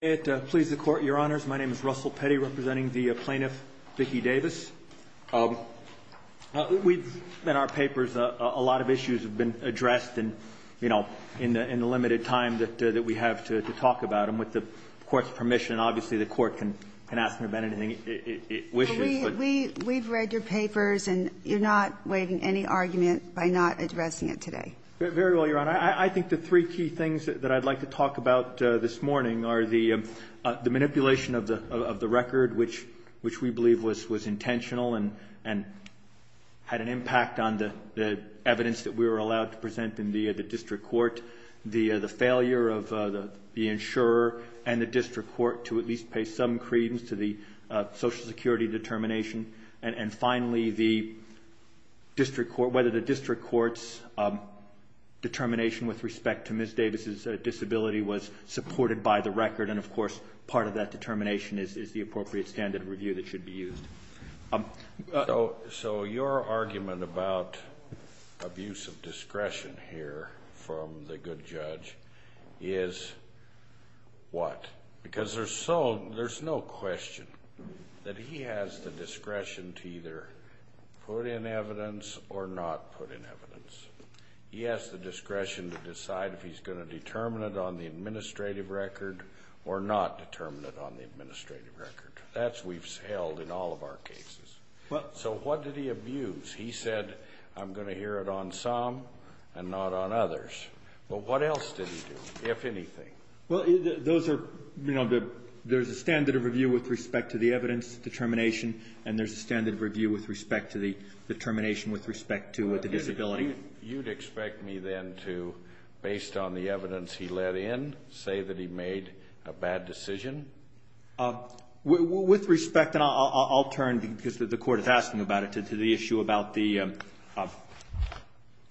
It pleases the Court, Your Honors. My name is Russell Petty, representing the plaintiff, Vicki Davis. We've in our papers, a lot of issues have been addressed, and, you know, in the limited time that we have to talk about them. With the Court's permission, obviously, the Court can ask me about anything it wishes, but we've read your papers, and you're not waiving any argument by not addressing it today. Very well, Your Honor. I think the three key things that I'd like to talk about this morning are the manipulation of the record, which we believe was intentional and had an impact on the evidence that we were allowed to present in the District Court, the failure of the insurer and the District Court to at least pay some credence to the Social Security determination, and finally, whether the District Court's determination with respect to Ms. Davis' disability was supported by the record, and, of course, part of that determination is the appropriate standard of review that should be used. So your argument about abuse of discretion here from the good judge is what? Because there's no question that he has the discretion to either put in evidence or not put in evidence. He has the discretion to decide if he's going to determine it on the administrative record or not determine it on the administrative record. That's what we've held in all of our cases. Well. So what did he abuse? He said, I'm going to hear it on some and not on others. Well, what else did he do, if anything? Well, those are, you know, there's a standard of review with respect to the evidence determination, and there's a standard of review with respect to the determination with respect to the disability. You'd expect me then to, based on the evidence he let in, say that he made a bad decision? With respect, and I'll turn, because the Court is asking about it, to the issue about the,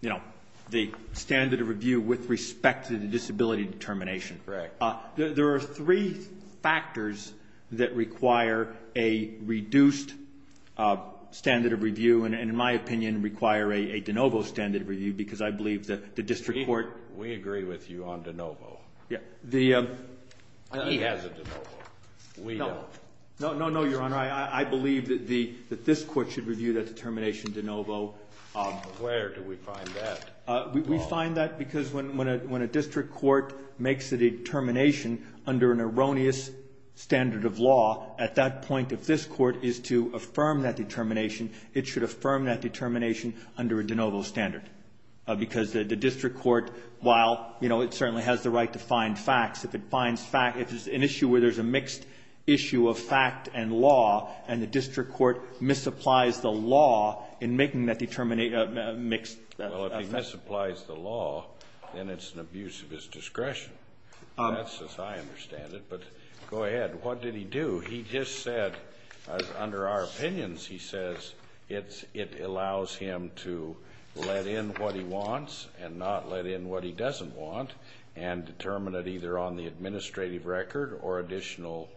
you know, the standard of review with respect to the disability determination. Correct. There are three factors that require a reduced standard of review and, in my opinion, require a de novo standard of review, because I believe that the district court We agree with you on de novo. Yeah. The He has a de novo. We don't. No, no, no, Your Honor. I believe that the, that this Court should review that determination de novo. Where do we find that? We find that because when a district court makes a determination under an erroneous standard of law, at that point, if this Court is to affirm that determination, it should affirm that determination under a de novo standard, because the district court, while, you know, it certainly has the right to find facts, if it finds fact If it's an issue where there's a mixed issue of fact and law, and the district court misapplies the law in making that determinate, mixed Well, if he misapplies the law, then it's an abuse of his discretion. That's as I understand it. But go ahead. What did he do? He just said, under our opinions, he says, it's, it allows him to let in what he wants and not let in what he doesn't want and determine it either on the administrative record or additional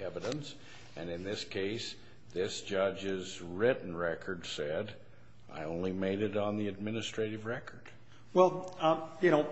evidence. And in this case, this judge's written record said, I only made it on the administrative record. Well, you know,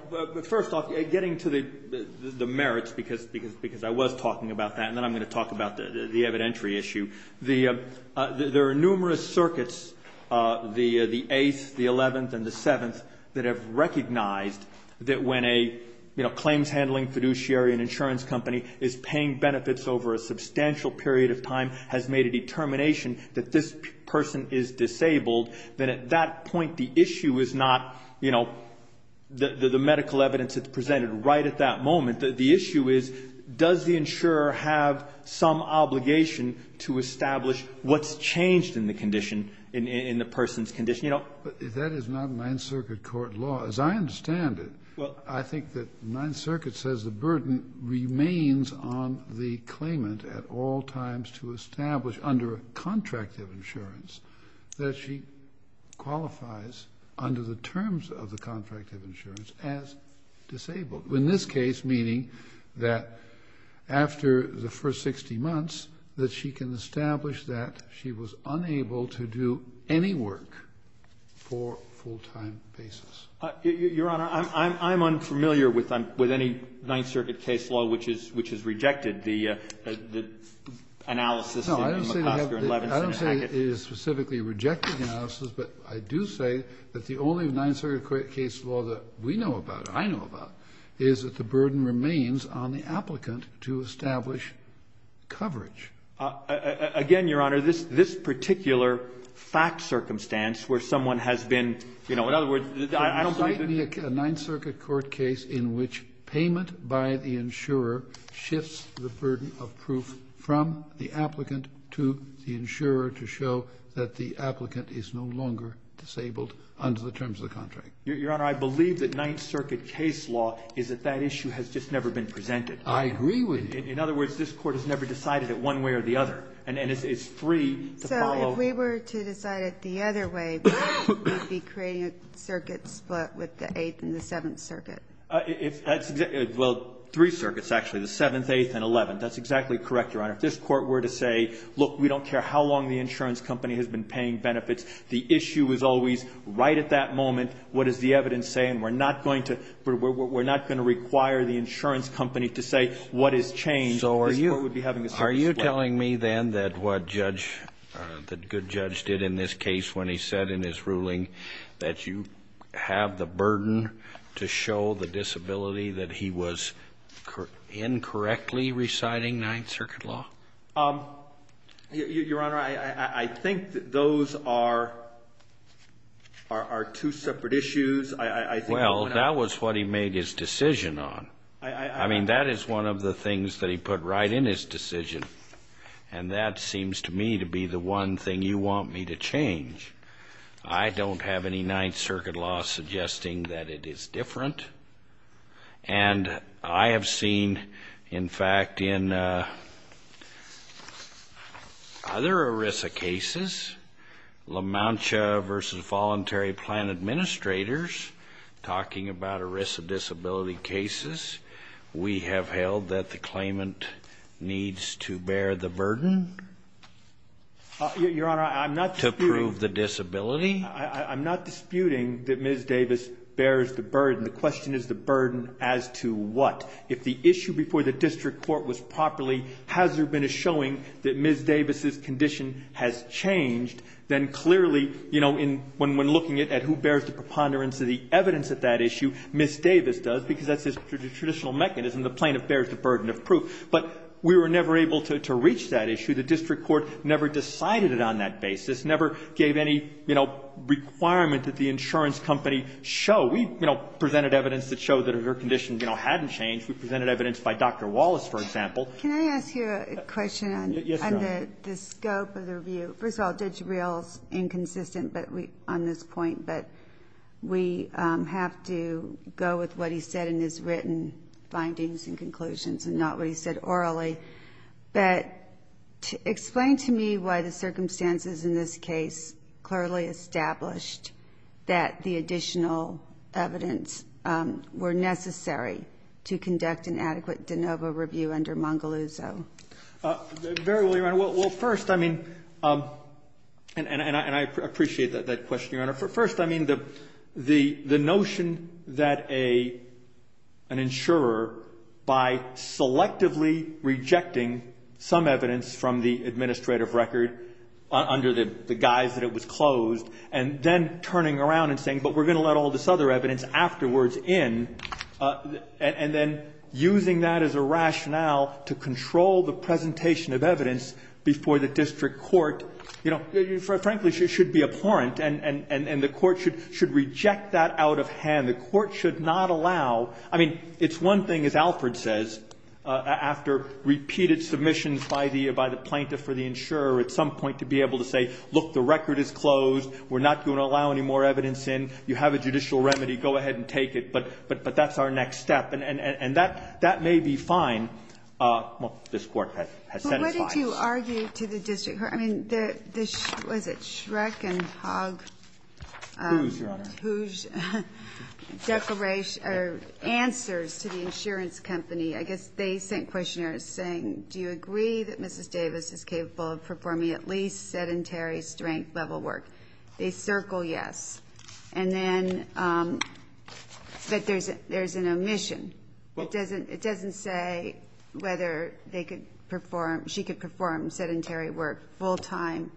first off, getting to the merits, because, because, because I was talking about that, and then I'm going to talk about the evidentiary issue, the, there are numerous circuits, the, the 8th, the 11th, and the 7th, that have recognized that when a, you know, claims handling fiduciary and insurance company is paying benefits over a substantial period of time, has made a determination that this person is disabled, then at that point, the issue is not, you know, the, the medical evidence that's presented right at that moment, the, the issue is, does the insurer have some obligation to establish what's changed in the condition, in, in the person's condition? You know? But that is not Ninth Circuit court law. As I understand it, I think that Ninth Circuit says the burden remains on the claimant at all times to establish under a contract of insurance that she qualifies under the terms of the contract of disability. In this case, meaning that after the first 60 months, that she can establish that she was unable to do any work for full-time basis. Your Honor, I'm, I'm, I'm unfamiliar with, with any Ninth Circuit case law which is, which is rejected. The, the analysis in McOsker and Levinson and Hackett. No, I don't say that, I don't say it is specifically a rejected analysis, but I do say that the only Ninth Circuit case law that we know about, or I know about, is that the burden remains on the applicant to establish coverage. Again, Your Honor, this, this particular fact circumstance where someone has been, you know, in other words, I don't think that. A Ninth Circuit court case in which payment by the insurer shifts the burden of proof from the applicant to the insurer to show that the applicant is no longer disabled under the terms of the contract. Your, Your Honor, I believe that Ninth Circuit case law is that that issue has just never been presented. I agree with you. In, in other words, this Court has never decided it one way or the other. And, and it's, it's free to follow. So if we were to decide it the other way, we'd be creating a circuit split with the Eighth and the Seventh Circuit. If, that's exactly, well, three circuits, actually, the Seventh, Eighth, and Eleventh. That's exactly correct, Your Honor. If this Court were to say, look, we don't care how long the insurance company has been paying benefits, the issue is always right at that moment, what does the evidence say, and we're not going to, we're, we're, we're not going to require the insurance company to say what has changed, this Court would be having a circuit split. So are you, are you telling me then that what Judge, that good Judge did in this case when he said in his ruling that you have the burden to show the disability that he was incorrectly reciting Ninth Circuit law? Your, Your Honor, I, I, I think that those are, are, are two separate issues. I, I, I think. Well, that was what he made his decision on. I, I, I. I mean, that is one of the things that he put right in his decision. And that seems to me to be the one thing you want me to change. I don't have any Ninth Circuit law suggesting that it is different. And I have seen, in fact, in other ERISA cases, La Mancha versus Voluntary Plan Administrators, talking about ERISA disability cases, we have held that the claimant needs to bear the burden. Your, Your Honor, I'm not disputing. To prove the disability. I, I, I'm not disputing that Ms. Davis bears the burden. The question is the burden as to what? If the issue before the district court was properly, has there been a showing that Ms. Davis's condition has changed, then clearly, you know, in, when, when looking at, at who bears the preponderance of the evidence at that issue, Ms. Davis does, because that's the traditional mechanism. The plaintiff bears the burden of proof. But we were never able to, to reach that issue. The district court never decided it on that basis. Never gave any, you know, requirement that the insurance company show. We, you know, presented evidence that showed that her condition, you know, hadn't changed. We presented evidence by Dr. Wallace, for example. Can I ask you a question on the scope of the review? First of all, did you realize, inconsistent, but we, on this point, but we have to go with what he said in his written findings and conclusions and not what he said orally, but explain to me why the circumstances in this case clearly established that the additional evidence were necessary to conduct an adequate de novo review under Mongoluzo. Very well, Your Honor. Well, first, I mean, and I appreciate that question, Your Honor. First, I mean, the, the, the notion that a, an insurer, by selectively rejecting some evidence from the administrative record under the guise that it was closed, and then turning around and saying, but we're going to let all this other evidence afterwards in, and then using that as a rationale to control the presentation of evidence before the district court, you know, frankly, should be abhorrent, and, and, and the court should, should reject that out of hand. The court should not allow, I mean, it's one thing, as Alfred says, after repeated submissions by the, by the plaintiff or the insurer at some point to be able to say, look, the record is closed, we're not going to allow any more evidence in, you have a judicial remedy, go ahead and take it, but, but, but that's our next step. And, and, and that, that may be fine. Well, this Court has, has satisfied us. But what did you argue to the district court? I mean, the, the, what is it, Shrek and Hogg? Who's, Your Honor? Whose declaration, or answers to the insurance company, I guess they sent questionnaires saying, do you agree that Mrs. Davis is capable of performing at least sedentary strength level work? They circle yes. And then that there's, there's an omission. It doesn't, it doesn't say whether they could perform, she could perform sedentary work full time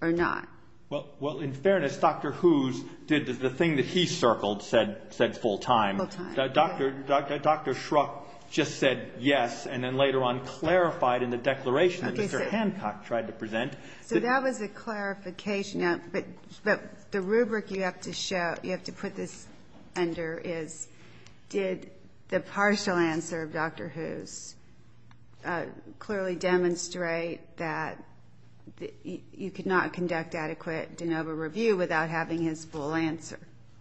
or not. Well, well, in fairness, Dr. Who's did, the thing that he circled said, said full time. Full time. Dr., Dr. Shrek just said yes, and then later on clarified in the declaration that Mr. Hancock tried to present. So that was a clarification, but, but the rubric you have to show, you have to put this under is, did the partial answer of Dr. Who's clearly demonstrate that you could not conduct adequate de novo review without having his full answer?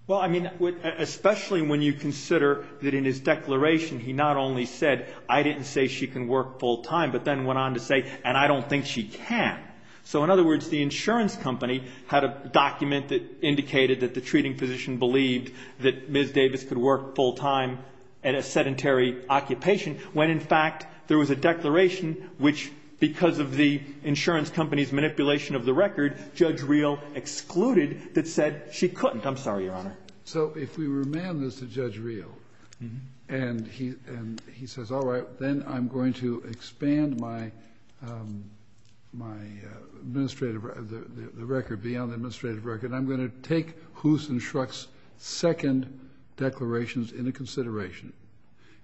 Well, I mean, especially when you consider that in his declaration, he not only said, I didn't say she can work full time, but then went on to say, and I don't think she can. So in other words, the insurance company had a document that indicated that the treating physician believed that Ms. Davis could work full time at a sedentary occupation, when in fact there was a declaration which, because of the insurance company's manipulation of the record, Judge Reel excluded that said she couldn't. I'm sorry, Your Honor. So if we remand this to Judge Reel and he, and he says, all right, then I'm going to expand my, my administrative, the record beyond the administrative record, I'm going to take Who's and Shrek's second declarations into consideration,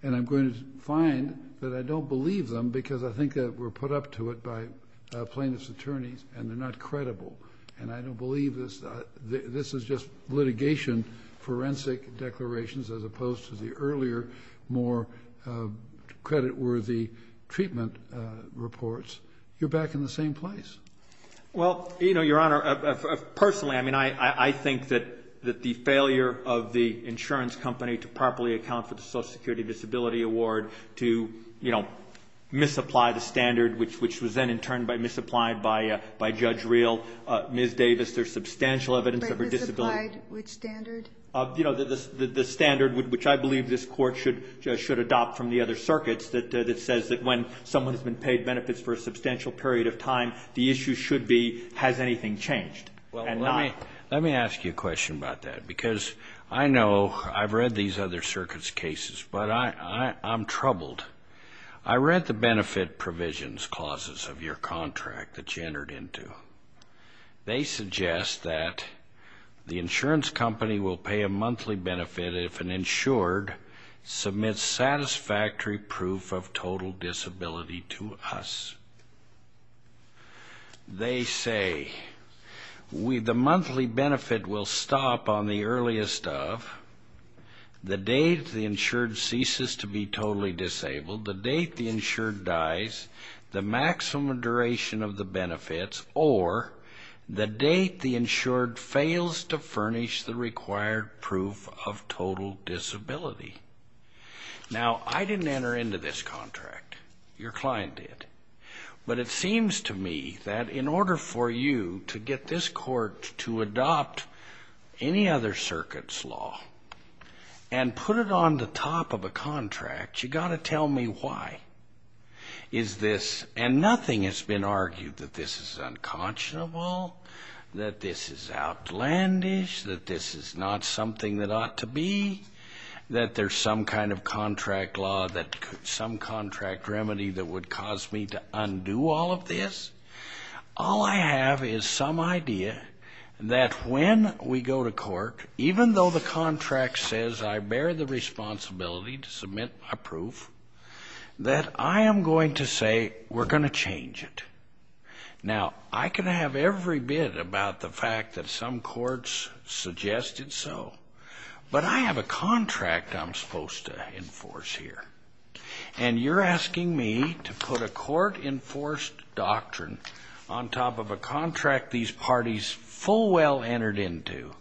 and I'm going to find that I don't believe them because I think that we're put up to it by plaintiff's attorneys and they're not credible. And I don't believe this, this is just litigation, forensic declarations, as opposed to the earlier, more credit worthy treatment reports. You're back in the same place. Well, you know, Your Honor, personally, I mean, I, I think that, that the failure of the insurance company to properly account for the social security disability award to, you know, misapply the standard, which, which was then in turn by misapplied by, by Judge Reel, Ms. Davis, there's substantial evidence of her disability. Which standard? Of, you know, the, the, the, the standard would, which I believe this court should, should adopt from the other circuits that, that says that when someone has been paid benefits for a substantial period of time, the issue should be, has anything changed? Well, let me, let me ask you a question about that because I know I've read these other circuits cases, but I, I, I'm troubled. I read the benefit provisions clauses of your contract that you entered into. They suggest that the insurance company will pay a monthly benefit if an insured submits satisfactory proof of total disability to us. They say we, the monthly benefit will stop on the earliest of the day the insured dies, the maximum duration of the benefits, or the date the insured fails to furnish the required proof of total disability. Now I didn't enter into this contract, your client did, but it seems to me that in order for you to get this court to adopt any other circuits law and put it on the top of a contract, you got to tell me why is this, and nothing has been argued that this is unconscionable, that this is outlandish, that this is not something that ought to be, that there's some kind of contract law, that some contract remedy that would cause me to undo all of this. All I have is some idea that when we go to court, even though the contract says I bear the responsibility to submit a proof, that I am going to say, we're going to change it. Now I can have every bit about the fact that some courts suggested so, but I have a contract I'm supposed to enforce here. And you're asking me to put a court enforced doctrine on top of a contract these parties full well entered into.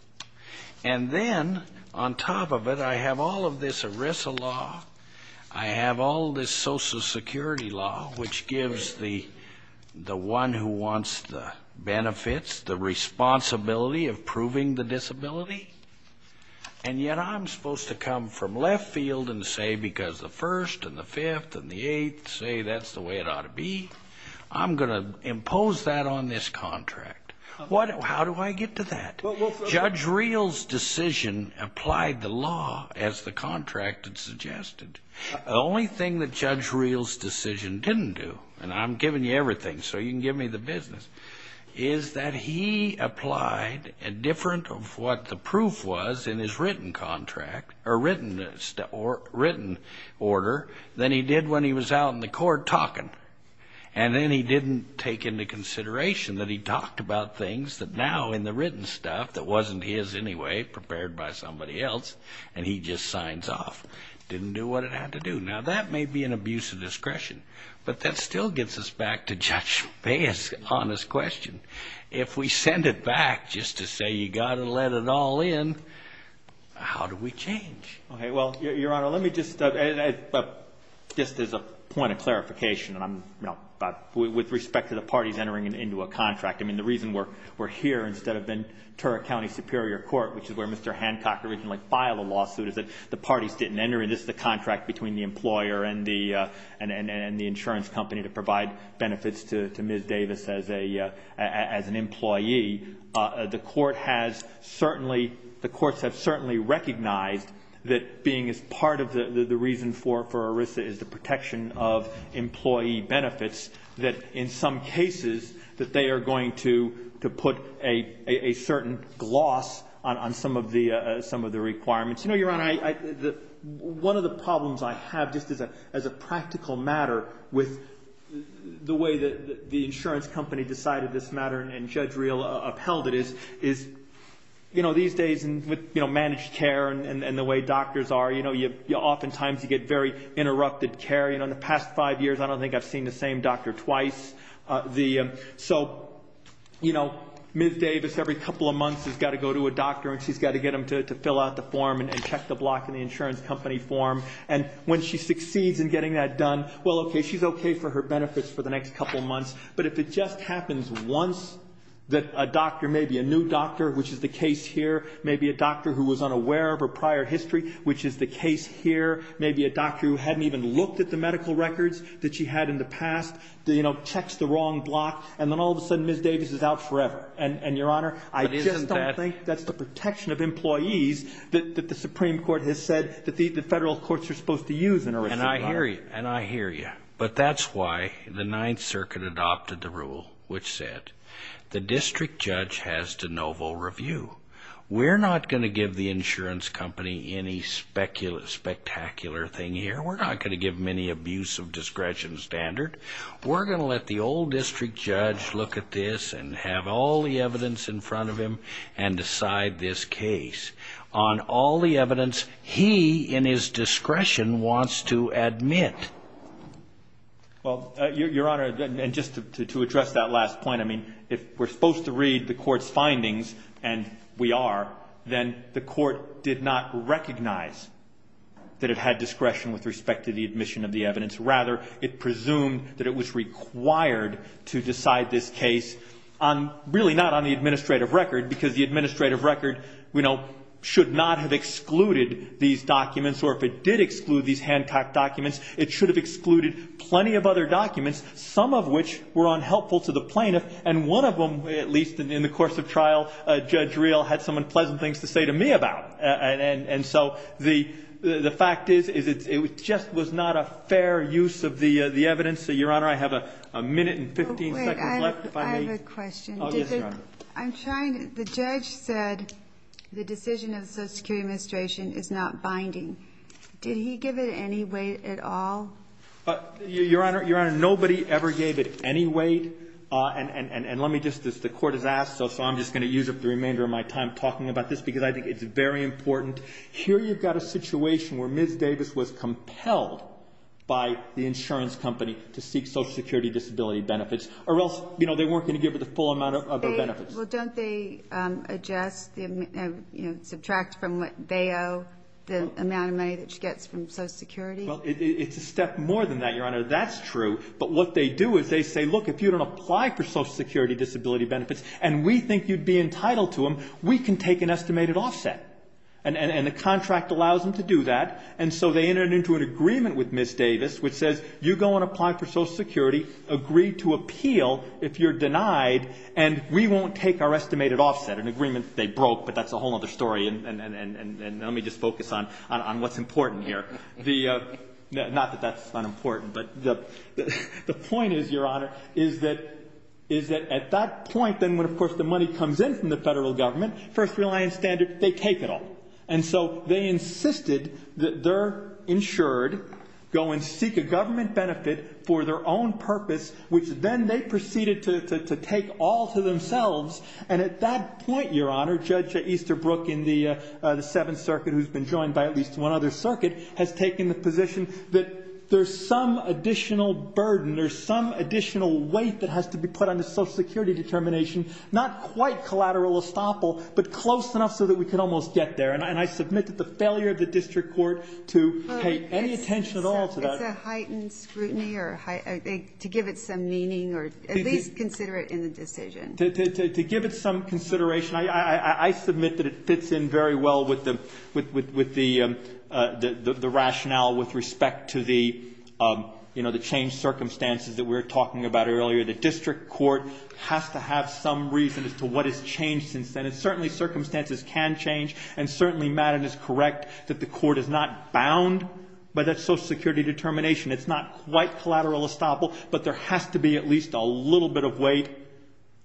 And then on top of it, I have all of this ERISA law. I have all this social security law, which gives the one who wants the benefits, the responsibility of proving the disability, and yet I'm supposed to come from left field and say, because the first and the fifth and the eighth say that's the way it ought to be. I'm going to impose that on this contract. What, how do I get to that? Judge Reel's decision applied the law as the contract had suggested. The only thing that Judge Reel's decision didn't do, and I'm giving you everything so you can give me the business, is that he applied a different of what the proof was in his written contract or written order than he did when he was out in the court talking. And then he didn't take into consideration that he talked about things that now in the written stuff that wasn't his anyway, prepared by somebody else, and he just signs off, didn't do what it had to do. Now that may be an abuse of discretion, but that still gets us back to Judge Baye's honest question. If we send it back just to say, you got to let it all in, how do we change? Okay. Well, Your Honor, let me just, just as a point of clarification, and I'm, you know, with respect to the parties entering into a contract. I mean, the reason we're, we're here instead of in Tura County Superior Court, which is where Mr. Hancock originally filed a lawsuit, is that the parties didn't enter. And this is the contract between the employer and the, and the insurance company to provide benefits to, to Ms. Davis as a, as an employee. The court has certainly, the courts have certainly recognized that being as part of the, the, the reason for, for ERISA is the protection of employee benefits, that in some cases that they are going to, to put a, a certain gloss on, on some of the, some of the requirements. You know, Your Honor, I, I, the, one of the problems I have just as a, as a practical matter with the way that the insurance company decided this matter and, and Judge Riehl upheld it is, is, you know, these days with, you know, managed care and, and the way doctors are, you know, you, you oftentimes you get very interrupted care, you know, in the past five years, I don't think I've seen the same doctor twice. The, so, you know, Ms. Davis every couple of months has got to go to a doctor and she's got to get them to, to fill out the form and check the block in the insurance company form. And when she succeeds in getting that done, well, okay, she's okay for her benefits for the next couple of months. But if it just happens once that a doctor, maybe a new doctor, which is the doctor who was unaware of her prior history, which is the case here, maybe a doctor who hadn't even looked at the medical records that she had in the past, the, you know, checks the wrong block. And then all of a sudden Ms. Davis is out forever. And, and Your Honor, I just don't think that's the protection of employees that the Supreme Court has said that the federal courts are supposed to use. And I hear you and I hear you, but that's why the ninth circuit adopted the rule, which said the district judge has de novo review. We're not going to give the insurance company any speculative, spectacular thing here. We're not going to give them any abuse of discretion standard. We're going to let the old district judge look at this and have all the evidence in front of him and decide this case on all the evidence he, in his discretion, wants to admit. Well, Your Honor, and just to, to, to address that last point, I mean, if we're we are, then the court did not recognize that it had discretion with respect to the admission of the evidence. Rather, it presumed that it was required to decide this case on really not on the administrative record because the administrative record, you know, should not have excluded these documents. Or if it did exclude these hand-packed documents, it should have excluded plenty of other documents, some of which were unhelpful to the plaintiff. And one of them, at least in the course of trial, Judge Reel had some unpleasant things to say to me about. And, and, and so the, the fact is, is it, it just was not a fair use of the, the evidence. So, Your Honor, I have a, a minute and 15 seconds left if I may. I have a question. Oh, yes, Your Honor. I'm trying to, the judge said the decision of the Social Security Administration is not binding. Did he give it any weight at all? Your Honor, Your Honor, nobody ever gave it any weight. And, and, and, and let me just, as the court has asked, so, so I'm just going to use up the remainder of my time talking about this because I think it's very important. Here, you've got a situation where Ms. Davis was compelled by the insurance company to seek Social Security disability benefits, or else, you know, they weren't going to give her the full amount of benefits. Well, don't they adjust the, you know, subtract from what they owe the amount of money that she gets from Social Security? Well, it, it's a step more than that, Your Honor. That's true. But what they do is they say, look, if you don't apply for Social Security disability benefits, and we think you'd be entitled to them, we can take an estimated offset. And, and, and the contract allows them to do that. And so they entered into an agreement with Ms. Davis, which says, you go and apply for Social Security, agree to appeal if you're denied, and we won't take our estimated offset, an agreement they broke, but that's a whole other story. And, and, and, and, and let me just focus on, on, on what's important here. The, not that that's unimportant, but the, the point is, Your Honor, is that, is that at that point, then when, of course, the money comes in from the Federal Government, first reliance standard, they take it all. And so they insisted that they're insured, go and seek a government benefit for their own purpose, which then they proceeded to, to, to take all to themselves. And at that point, Your Honor, Judge Easterbrook in the Seventh Circuit, who's been joined by at least one other circuit, has taken the position that there's some additional burden, there's some additional weight that has to be put on the Social Security determination, not quite collateral estoppel, but close enough so that we could almost get there. And I, and I submit that the failure of the district court to pay any attention at all to that. It's a heightened scrutiny or a high, to give it some meaning or at least consider it in the decision. To, to, to, to give it some consideration. I, I, I submit that it fits in very well with the, with, with, with the, the, the rationale with respect to the, you know, the changed circumstances that we were talking about earlier. The district court has to have some reason as to what has changed since then. And certainly circumstances can change. And certainly Madden is correct that the court is not bound by that Social Security determination. It's not quite collateral estoppel, but there has to be at least a little bit of weight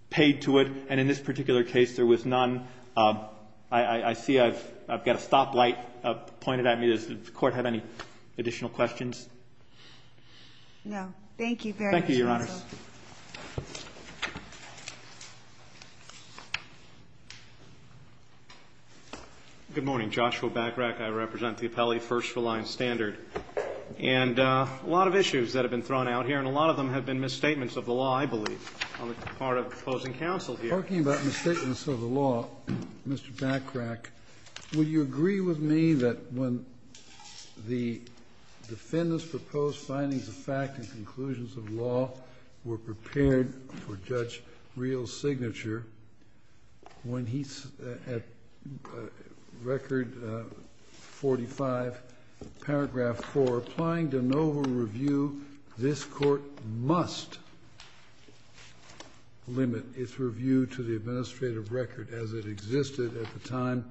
paid to it. And in this particular case, there was none. I, I, I see I've, I've got a stoplight pointed at me. Does the court have any additional questions? No. Thank you. Thank you, Your Honors. Good morning. Joshua Backrack. I represent the Appellee First Reliance Standard. And a lot of issues that have been thrown out here, and a lot of them have been misstatements of the law, I believe, on the part of opposing counsel here. Talking about misstatements of the law, Mr. Backrack, will you agree with me that when the defendant's proposed findings of fact and conclusions of law were prepared for Judge Reel's signature, when he's at Record 45, paragraph 4, applying de novo review, this Court must limit its review to the administrative record as it existed at the time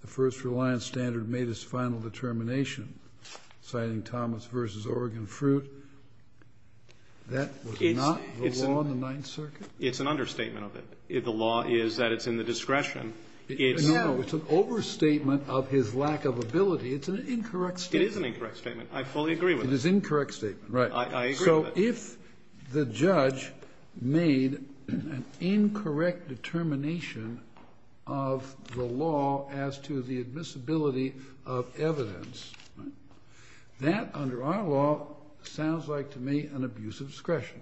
the First Reliance Standard made its final determination, citing Thomas v. Oregon Fruit? That was not the law in the Ninth Circuit? It's an understatement of it. The law is that it's in the discretion. It's now an overstatement of his lack of ability. It's an incorrect statement. It is an incorrect statement. I fully agree with that. It is an incorrect statement, right. I agree with that. So if the judge made an incorrect determination of the law as to the admissibility of evidence, that, under our law, sounds like, to me, an abuse of discretion.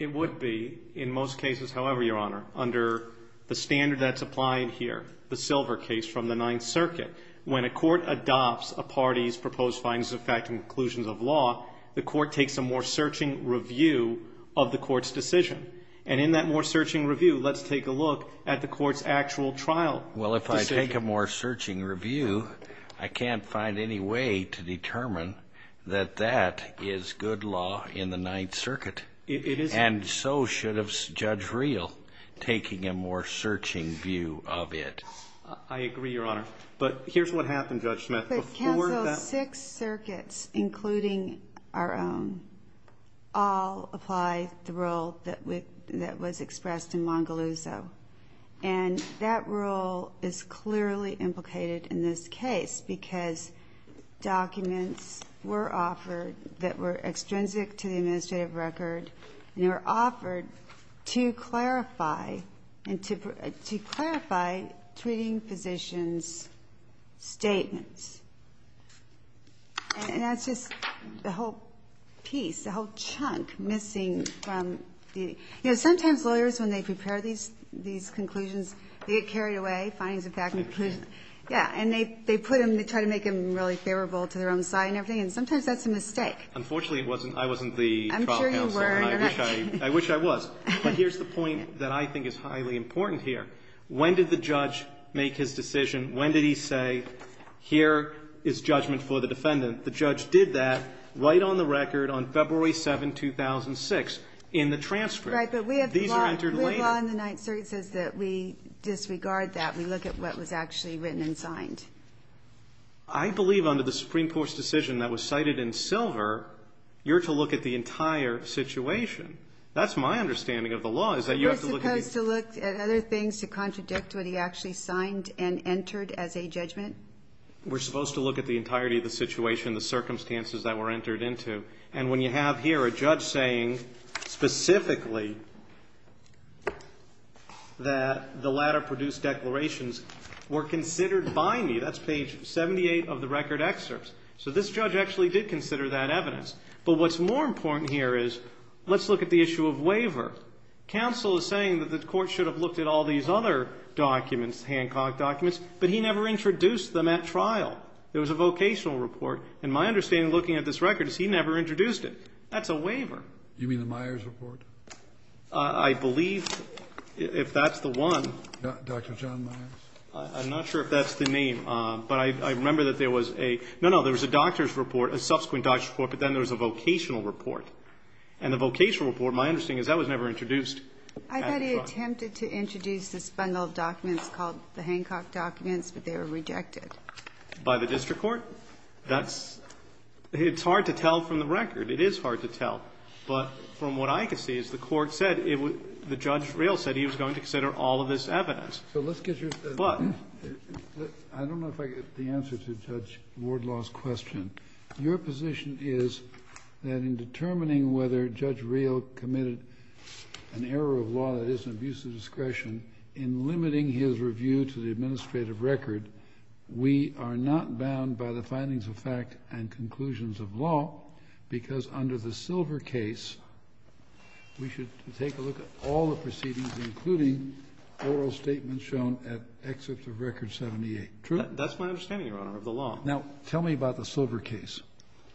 It would be, in most cases, however, Your Honor, under the standard that's applied here, the Silver case from the Ninth Circuit, when a court adopts a party's proposed findings of fact and conclusions of law, the court takes a more searching review of the court's decision. And in that more searching review, let's take a look at the court's actual trial decision. Well, if I take a more searching review, I can't find any way to determine that that is good law in the Ninth Circuit. It isn't. And so should have Judge Reel taking a more searching view of it. I agree, Your Honor. But here's what happened, Judge Smith. The court canceled six circuits, including our own, all apply the rule that was expressed in Mongoluzo. And that rule is clearly implicated in this case, because documents were offered that were extrinsic to the administrative record, and they were offered to clarify treating physicians' statements. And that's just the whole piece, the whole chunk missing from the, you know, sometimes lawyers, when they prepare these, these conclusions, they get carried away, findings of fact and conclusions. Yeah. And they, they put them, they try to make them really favorable to their own side and everything. And sometimes that's a mistake. Unfortunately, it wasn't. I wasn't the trial counsel. I'm sure you weren't. I wish I, I wish I was. But here's the point that I think is highly important here. When did the judge make his decision? When did he say, here is judgment for the defendant? The judge did that right on the record on February 7, 2006, in the transcript. Right. But we have, we have law in the Ninth Circuit says that we disregard that. We look at what was actually written and signed. I believe under the Supreme Court's decision that was cited in Silver, you're to look at the entire situation. That's my understanding of the law, is that you have to look at the. We're supposed to look at other things to contradict what he actually signed and entered as a judgment? We're supposed to look at the entirety of the situation, the circumstances that were entered into. And when you have here a judge saying specifically that the latter produced declarations were considered by me, that's page 78 of the record excerpts. So this judge actually did consider that evidence. But what's more important here is, let's look at the issue of waiver. Counsel is saying that the court should have looked at all these other documents, Hancock documents, but he never introduced them at trial. There was a vocational report. And my understanding, looking at this record, is he never introduced it. That's a waiver. You mean the Myers report? I believe if that's the one. Dr. John Myers? I'm not sure if that's the name, but I remember that there was a, no, no, there was a doctor's report, a subsequent doctor's report. But then there was a vocational report. And the vocational report, my understanding is that was never introduced at the trial. I thought he attempted to introduce the Spengler documents called the Hancock documents, but they were rejected. By the district court? That's, it's hard to tell from the record. It is hard to tell. But from what I can see is the court said it would, the judge real said he was going to consider all of this evidence. So let's get your, I don't know if I get the answer to Judge Wardlaw's question. Your position is that in determining whether Judge Real committed an error of law that is an abuse of discretion in limiting his review to the administrative record, we are not bound by the findings of fact and conclusions of law because under the Silver case, we should take a look at all the proceedings, including oral statements shown at excerpt of record 78. True? That's my understanding, Your Honor, of the law. Now, tell me about the Silver case.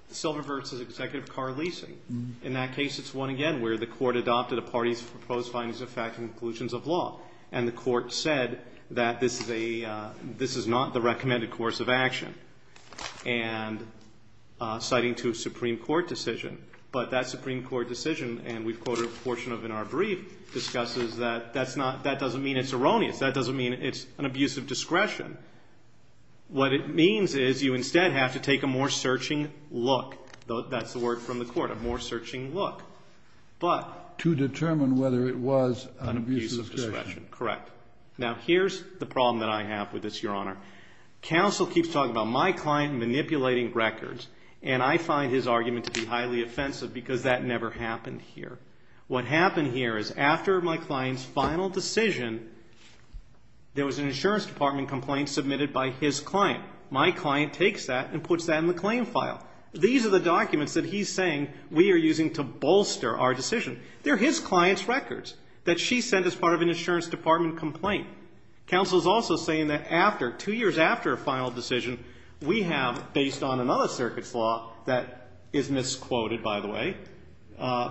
The Silver versus Executive Car Leasing. In that case, it's one, again, where the court adopted a party's proposed findings of fact and conclusions of law, and the court said that this is a, this is not the recommended course of action. And citing to a Supreme Court decision, but that Supreme Court decision, and we've quoted a portion of in our brief, discusses that that's not, that doesn't mean it's erroneous. That doesn't mean it's an abuse of discretion. What it means is you instead have to take a more searching look, though that's the word from the court, a more searching look, but to determine whether it was an abuse of discretion, correct. Now, here's the problem that I have with this, Your Honor. Counsel keeps talking about my client manipulating records, and I find his argument to be highly offensive because that never happened here. What happened here is after my client's final decision, there was an insurance department complaint submitted by his client. My client takes that and puts that in the claim file. These are the documents that he's saying we are using to bolster our decision. They're his client's records that she sent as part of an insurance department complaint. Counsel's also saying that after, two years after a final decision, we have, based on another circuit's law that is misquoted, by the way,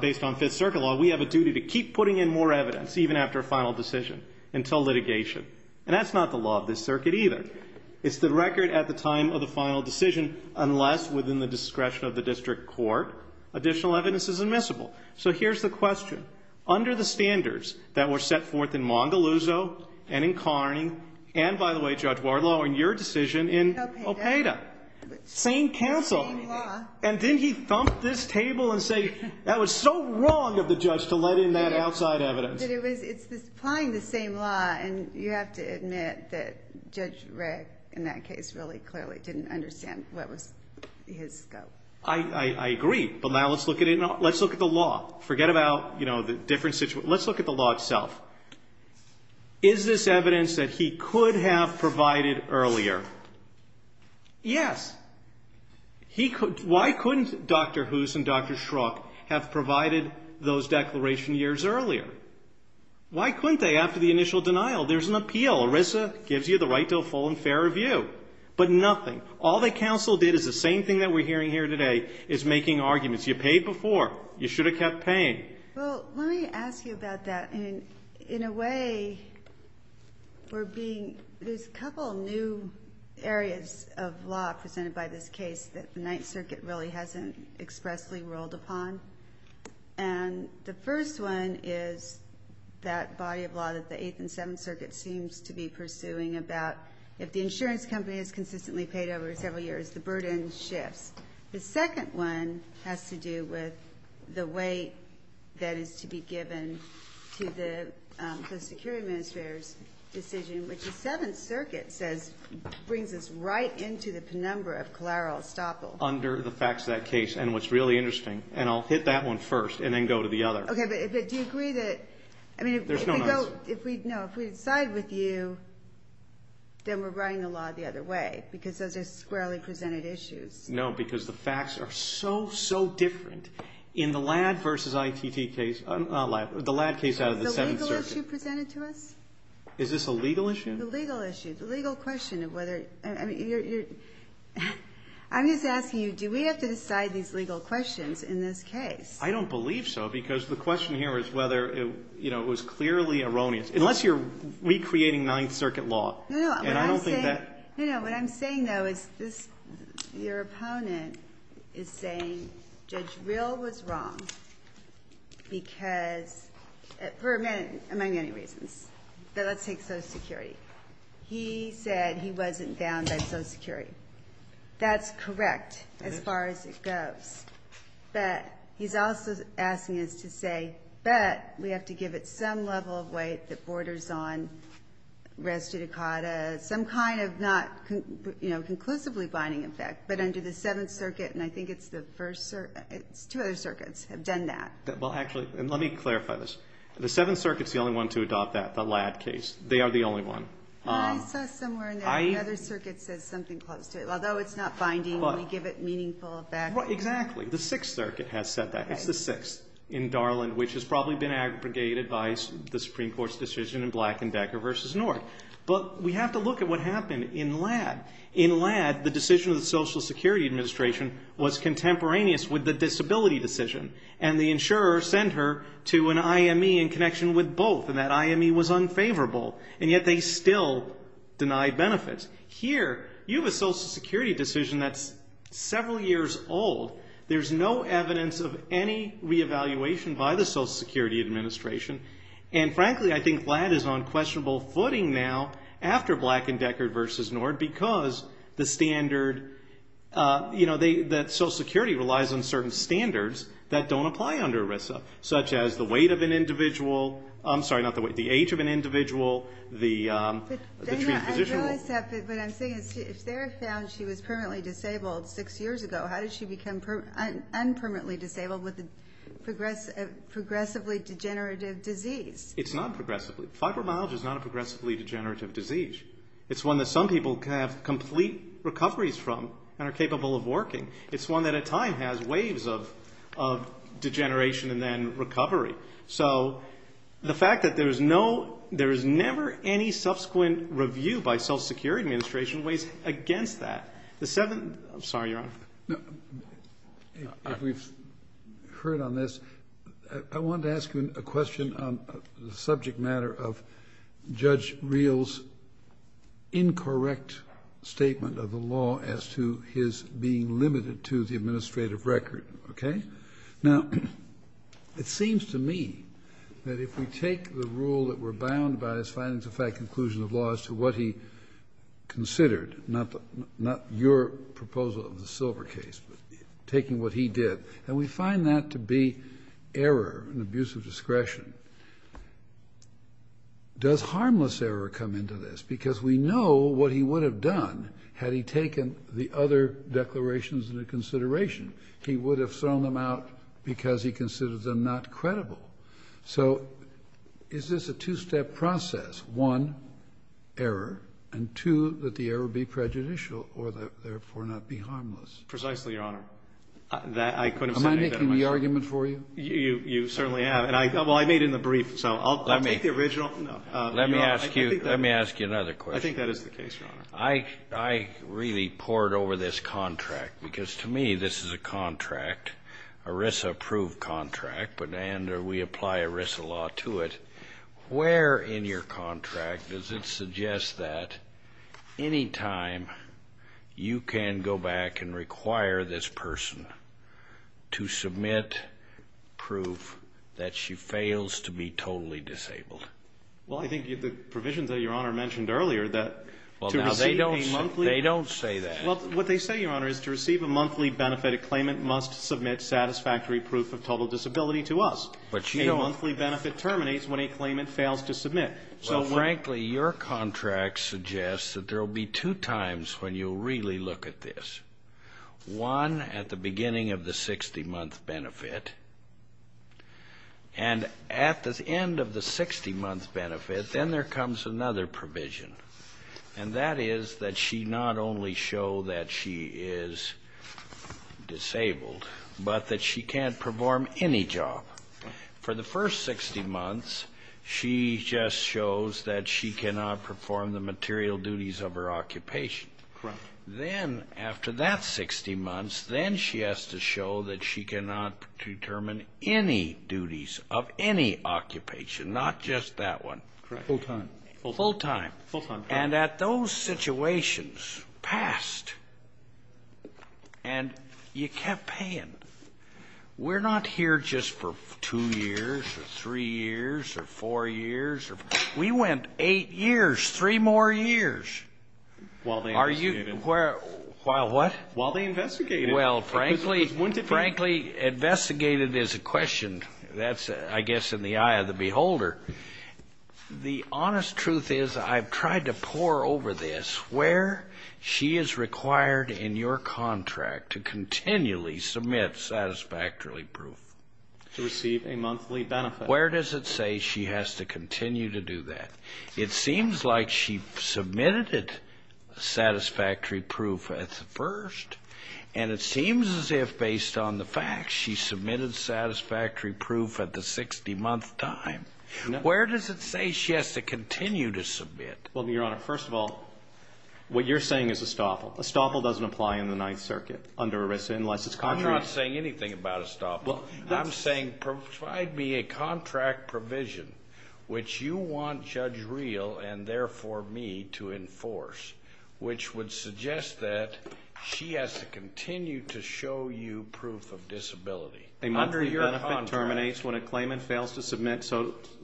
based on Fifth Circuit law, we have a duty to keep putting in more evidence even after a final decision until litigation. And that's not the law of this circuit either. It's the record at the time of the final decision, unless within the discretion of the district court, additional evidence is admissible. So here's the question. Under the standards that were set forth in Mongaluzzo and in Carney, and by the way, Judge Wardlaw, in your decision in Opeta, same counsel, and didn't he thump this table and say, that was so wrong of the judge to let in that outside evidence? It's applying the same law. And you have to admit that Judge Rigg, in that case, really clearly didn't understand what was his scope. I agree. But now let's look at it. Let's look at the law. Forget about, you know, the different situations. Let's look at the law itself. Is this evidence that he could have provided earlier? Yes. He could. Why couldn't Dr. Hoos and Dr. Schrock have provided those declaration years earlier? Why couldn't they after the initial denial? There's an appeal. ERISA gives you the right to a full and fair review. But nothing. All the counsel did is the same thing that we're hearing here today, is making arguments. You paid before. You should have kept paying. Well, let me ask you about that. And in a way, we're being, there's a couple of new areas of law presented by this case that the Ninth Circuit really hasn't expressly ruled upon. And the first one is that body of law that the Eighth and Seventh Circuit seems to be pursuing about if the insurance company has consistently paid over several years, the burden shifts. The second one has to do with the weight that is to be given to the post-security administrator's decision, which the Seventh Circuit says brings us right into the penumbra of collateral estoppel. Under the facts of that case, and what's really interesting, and I'll hit that one first and then go to the other. Okay. But do you agree that, I mean, if we decide with you, then we're writing the law the other way, because those are squarely presented issues. No, because the facts are so, so different. In the LADD versus ITT case, the LADD case out of the Seventh Circuit. Is the legal issue presented to us? Is this a legal issue? The legal issue. I'm just asking you, do we have to decide these legal questions in this case? I don't believe so, because the question here is whether it was clearly erroneous. Unless you're recreating Ninth Circuit law. No, no. What I'm saying, though, is your opponent is saying Judge Rill was wrong because, for many reasons, but let's take social security. He said he wasn't bound by social security. That's correct as far as it goes, but he's also asking us to say, but we have to give it some level of weight that borders on res judicata, some kind of not, you know, conclusively binding effect, but under the Seventh Circuit, and I think it's the first, it's two other circuits have done that. Well, actually, and let me clarify this. The Seventh Circuit's the only one to adopt that, the LADD case. They are the only one. I saw somewhere in there, the other circuit says something close to it, although it's not binding, we give it meaningful effect. Well, exactly. The Sixth Circuit has said that. It's the sixth in Darland, which has probably been aggregated by the Supreme Court's decision in Black and Decker v. North, but we have to look at what happened in LADD. In LADD, the decision of the Social Security Administration was contemporaneous with the disability decision, and the insurer sent her to an IME in connection with both, and that IME was unfavorable, and yet they still denied benefits. Here, you have a Social Security decision that's several years old. There's no evidence of any reevaluation by the Social Security Administration, and frankly, I think LADD is on questionable footing now after Black and Decker v. North because the standard, you know, that Social Security relies on certain standards that don't apply under ERISA, such as the weight of an individual, I'm sorry, not the weight, the age of an individual, the treatment position. But I'm saying, if Sarah found she was permanently disabled six years ago, how did she become unpermanently disabled with a progressively degenerative disease? It's not progressively. Fibromyalgia is not a progressively degenerative disease. It's one that some people can have complete recoveries from and are capable of working. It's one that at time has waves of, of degeneration and then recovery. So the fact that there is no, there is never any subsequent review by Social Security Administration weighs against that. The seven, I'm sorry, Your Honor. If we've heard on this, I wanted to ask you a question on the subject matter of the incorrect statement of the law as to his being limited to the administrative record. Okay. Now it seems to me that if we take the rule that we're bound by his findings of fact, conclusion of laws to what he considered, not, not your proposal of the silver case, but taking what he did, and we find that to be error and abuse of because we know what he would have done had he taken the other declarations into consideration, he would have thrown them out because he considers them not credible. So is this a two-step process? One error and two, that the error be prejudicial or therefore not be harmless. Precisely, Your Honor, that I couldn't make the argument for you. You, you certainly have. And I thought, well, I made it in the brief, so I'll take the original. No, let me ask you, let me ask you. Another question. I think that is the case, Your Honor. I, I really poured over this contract because to me, this is a contract, ERISA approved contract, but, and we apply ERISA law to it. Where in your contract does it suggest that any time you can go back and require this person to submit proof that she fails to be totally disabled? Well, I think the provisions that Your Honor mentioned earlier, that to receive a monthly, they don't say that. Well, what they say, Your Honor, is to receive a monthly benefit, a claimant must submit satisfactory proof of total disability to us. But you know, a monthly benefit terminates when a claimant fails to submit. So frankly, your contract suggests that there'll be two times when you really look at this, one at the beginning of the 60 month benefit and at the end of the 60 month benefit, then there comes another provision. And that is that she not only show that she is disabled, but that she can't perform any job. For the first 60 months, she just shows that she cannot perform the material duties of her occupation. Then after that 60 months, then she has to show that she cannot determine any occupation, not just that one. Full time. Full time. Full time. And at those situations, past, and you kept paying. We're not here just for two years or three years or four years. We went eight years, three more years. While they investigated. While what? While they investigated. Well, frankly, investigated is a question. That's, I guess, in the eye of the beholder. The honest truth is I've tried to pour over this where she is required in your contract to continually submit satisfactory proof. To receive a monthly benefit. Where does it say she has to continue to do that? It seems like she submitted satisfactory proof at first. And it seems as if based on the facts, she submitted satisfactory proof at the 60 month time. Where does it say she has to continue to submit? Well, Your Honor, first of all, what you're saying is estoppel. Estoppel doesn't apply in the Ninth Circuit under ERISA, unless it's contrary. I'm not saying anything about estoppel. I'm saying provide me a contract provision, which you want Judge Real and therefore me to enforce, which would suggest that she has to continue to show you proof of disability. A monthly benefit terminates when a claimant fails to submit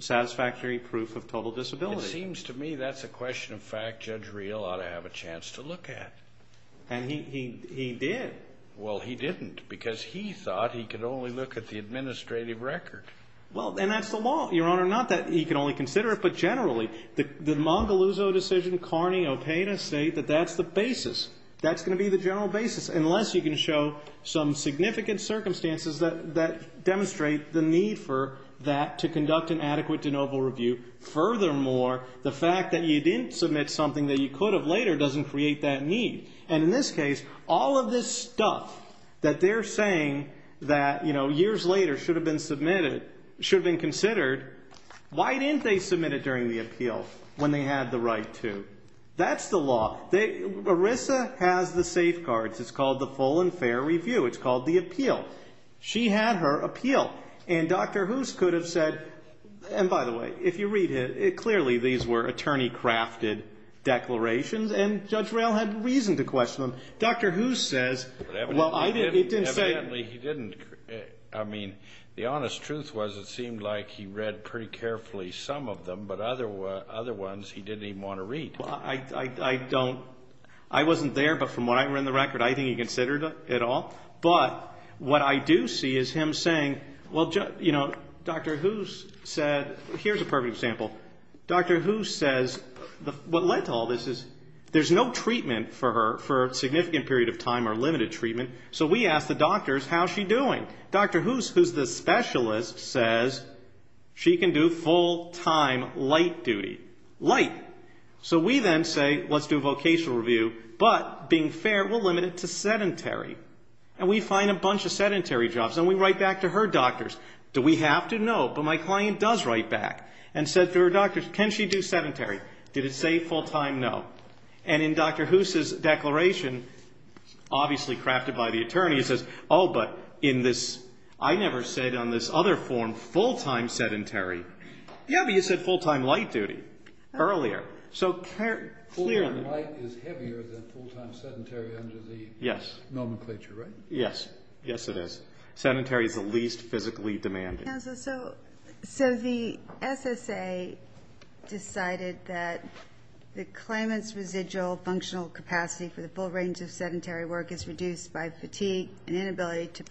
satisfactory proof of total disability. It seems to me that's a question of fact Judge Real ought to have a chance to look at. And he did. Well, he didn't because he thought he could only look at the administrative record. Well, and that's the law, Your Honor, not that he can only consider it. But generally, the Mangaluzzo decision, Carney, Opena state that that's the basis. That's going to be the general basis, unless you can show some significant circumstances that demonstrate the need for that to conduct an adequate de novo review. Furthermore, the fact that you didn't submit something that you could have later doesn't create that need. And in this case, all of this stuff that they're saying that, you know, years later should have been submitted, should have been considered, why didn't they submit it during the appeal when they had the right to? That's the law. They, ERISA has the safeguards. It's called the full and fair review. It's called the appeal. She had her appeal and Dr. Hoos could have said, and by the way, if you read it, it clearly, these were attorney crafted declarations and Judge Real had reason to question them. Dr. Hoos says, well, I didn't, he didn't say, he didn't, I mean, the honest truth was it seemed like he read pretty carefully some of them, but other, other ones he didn't even want to read. Well, I, I, I don't, I wasn't there, but from what I read in the record, I think he considered it all. But what I do see is him saying, well, you know, Dr. Hoos said, here's a perfect example. Dr. Hoos says what led to all this is there's no treatment for her for a significant period of time or limited treatment. So we asked the doctors, how's she doing? Dr. Hoos, who's the specialist says she can do full time light duty, light. So we then say, let's do a vocational review, but being fair, we'll limit it to sedentary and we find a bunch of sedentary jobs and we write back to her doctors. Do we have to know? But my client does write back and said to her doctors, can she do sedentary? Did it say full time? No. And in Dr. Hoos's declaration, obviously crafted by the attorney, he says, oh, but in this I never said on this other form, full time sedentary. Yeah. But you said full time light duty earlier. So clear. Full time light is heavier than full time sedentary under the nomenclature, right? Yes. Yes, it is. Sedentary is the least physically demanding. Counselor, so, so the SSA decided that the claimant's residual functional capacity for the full range of sedentary work is reduced by fatigue and inability to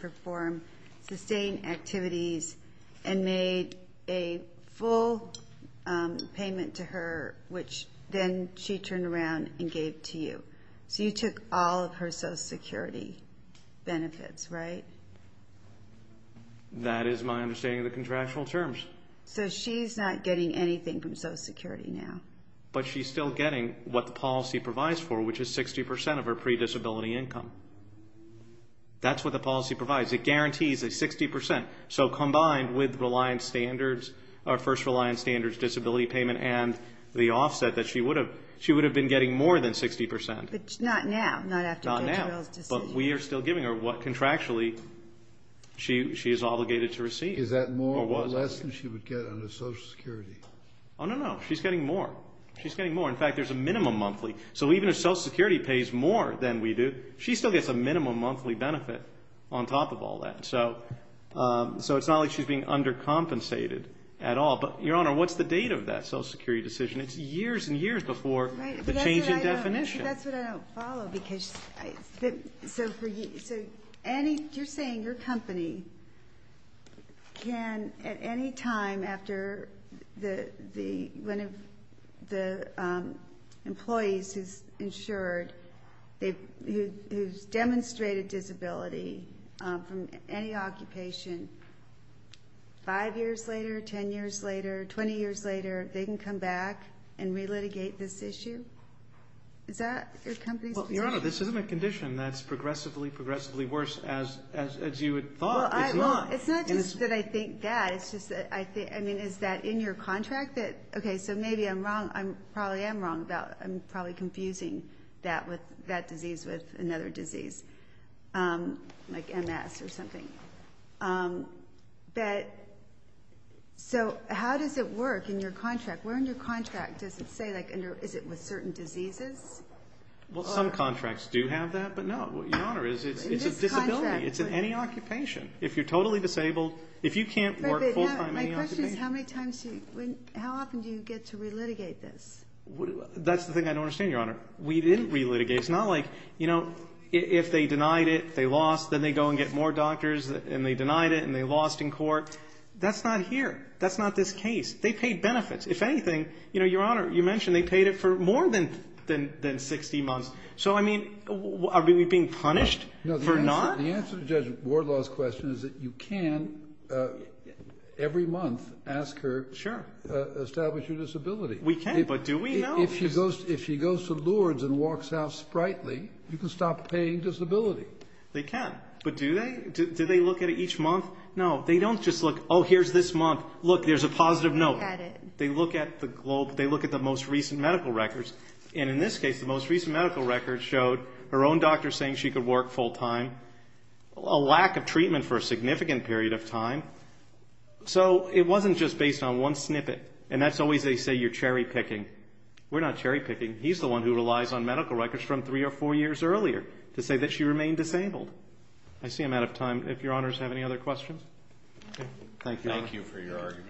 sustain activities and made a full payment to her, which then she turned around and gave to you, so you took all of her social security benefits, right? That is my understanding of the contractual terms. So she's not getting anything from social security now. But she's still getting what the policy provides for, which is 60% of her pre-disability income. That's what the policy provides. It guarantees a 60%. So combined with reliance standards, our first reliance standards, disability payment, and the offset that she would have, she would have been getting more than 60%. But not now. Not after Bill Jarrell's decision. But we are still giving her what contractually she is obligated to receive. Is that more or less than she would get under social security? Oh, no, no. She's getting more. She's getting more. In fact, there's a minimum monthly. So even if social security pays more than we do, she still gets a minimum monthly benefit on top of all that. So, so it's not like she's being undercompensated at all. But Your Honor, what's the date of that social security decision? It's years and years before the change in definition. That's what I don't follow because, so for you, so any, you're saying your company can at any time after the, the, one of the employees who's insured, they, who's demonstrated disability from any occupation, five years later, 10 years later, 20 years later, they can come back and re-litigate this issue? Is that your company's position? Your Honor, this isn't a condition that's progressively, progressively worse as, as, as you had thought. It's not. It's not just that I think that. It's just that I think, I mean, is that in your contract that, okay, so maybe I'm wrong, I'm, probably am wrong about, I'm probably confusing that with, that disease with another disease, like MS or something, but, so how does it work in your contract, where in your contract does it say like under, is it with certain diseases? Well, some contracts do have that, but no, Your Honor, it's, it's a disability. It's in any occupation. If you're totally disabled, if you can't work full-time in any occupation. My question is how many times do you, when, how often do you get to re-litigate this? That's the thing I don't understand, Your Honor. We didn't re-litigate. It's not like, you know, if they denied it, they lost, then they go and get more doctors and they denied it and they lost in court. That's not here. That's not this case. They paid benefits. If anything, you know, Your Honor, you mentioned they paid it for more than, than, than 60 months. So, I mean, are we being punished for not? The answer to Judge Wardlaw's question is that you can, uh, every month ask her, establish your disability. We can, but do we know? If she goes, if she goes to Lourdes and walks out sprightly, you can stop paying disability. They can, but do they, do they look at it each month? No, they don't just look, oh, here's this month. Look, there's a positive note. They look at the globe. They look at the most recent medical records. And in this case, the most recent medical records showed her own doctor saying she could work full time, a lack of treatment for a significant period of time. So it wasn't just based on one snippet and that's always, they say, you're cherry picking. We're not cherry picking. He's the one who relies on medical records from three or four years earlier to say that she remained disabled. I see I'm out of time. If Your Honors have any other questions. Thank you. Thank you for your argument.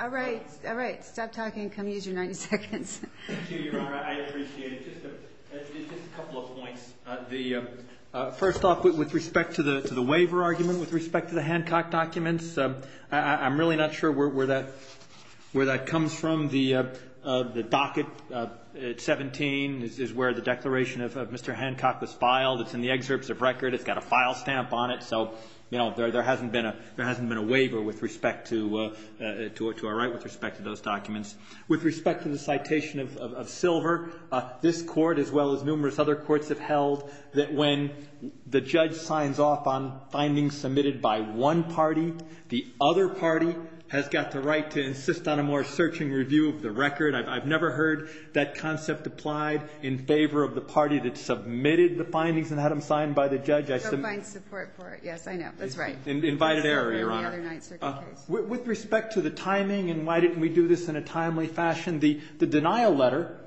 All right. All right. Stop talking. Come use your 90 seconds. Thank you, Your Honor. I appreciate it. Just a couple of points. The first off, with respect to the, to the waiver argument, with respect to the Hancock documents, I'm really not sure where that, where that comes from. The, the docket at 17 is where the declaration of Mr. Hancock was filed. It's in the excerpts of record. It's got a file stamp on it. So, you know, there, there hasn't been a, there hasn't been a waiver with respect to, to our right with respect to those documents. With respect to the citation of, of, of Silver, this court, as well as numerous other courts have held that when the judge signs off on findings submitted by one party, the other party has got the right to insist on a more searching review of the record. I've, I've never heard that concept applied in favor of the party that submitted the findings and had them signed by the judge. I submit support for it. Yes, I know. That's right. Invited error, Your Honor, with respect to the timing and why didn't we do this in a timely fashion? The, the denial letter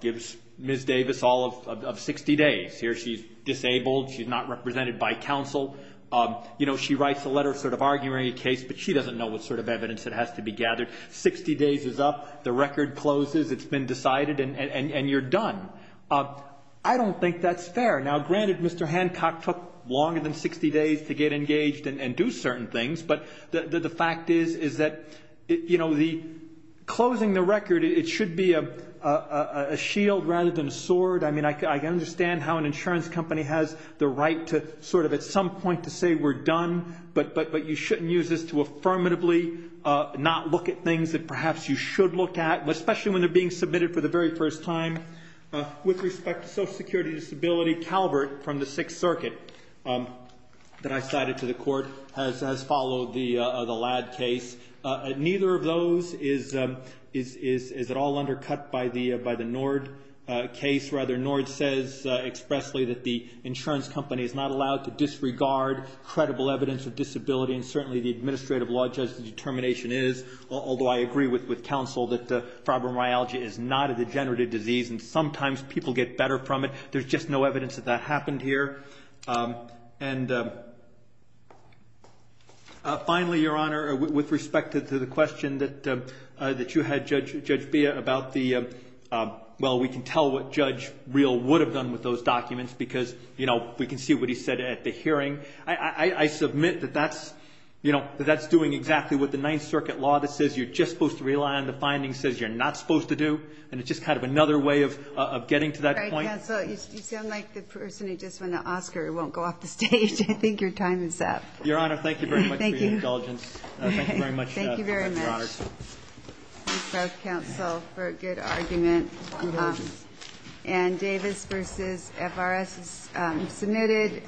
gives Ms. Davis all of, of, of 60 days. Here, she's disabled. She's not represented by counsel. You know, she writes a letter sort of arguing a case, but she doesn't know what sort of evidence that has to be gathered. 60 days is up. The record closes. It's been decided and, and, and you're done. I don't think that's fair. Now, granted, Mr. Hancock took longer than 60 days to get engaged and, and do certain things. But the, the fact is, is that it, you know, the closing the record, it should be a, a shield rather than a sword. I mean, I, I understand how an insurance company has the right to sort of at some point to say we're done, but, but, but you shouldn't use this to affirmatively not look at things that perhaps you should look at, especially when they're being submitted for the very first time. With respect to social security disability, Calvert from the Sixth Circuit that I cited to the court has, has followed the, the Ladd case. Neither of those is, is, is, is it all undercut by the, by the Nord case rather. Nord says expressly that the insurance company is not allowed to disregard credible evidence of disability and certainly the administrative law judge's determination is, although I agree with, with counsel that fibromyalgia is not a degenerative disease and sometimes people get better from it. There's just no evidence that that happened here. And finally, Your Honor, with respect to the question that, that you had, Judge, Judge Bea about the, well, we can tell what Judge Real would have done with those documents because, you know, we can see what he said at the hearing. I, I, I submit that that's, you know, that that's doing exactly what the Ninth Circuit law that says you're just supposed to rely on the findings says you're not supposed to do. And it's just kind of another way of, of getting to that point. Counsel, you sound like the person who just won the Oscar and won't go off the stage. I think your time is up. Your Honor, thank you very much for your indulgence. Thank you very much. Thank you very much. Thank you both, counsel, for a good argument. And Davis versus FRS is submitted.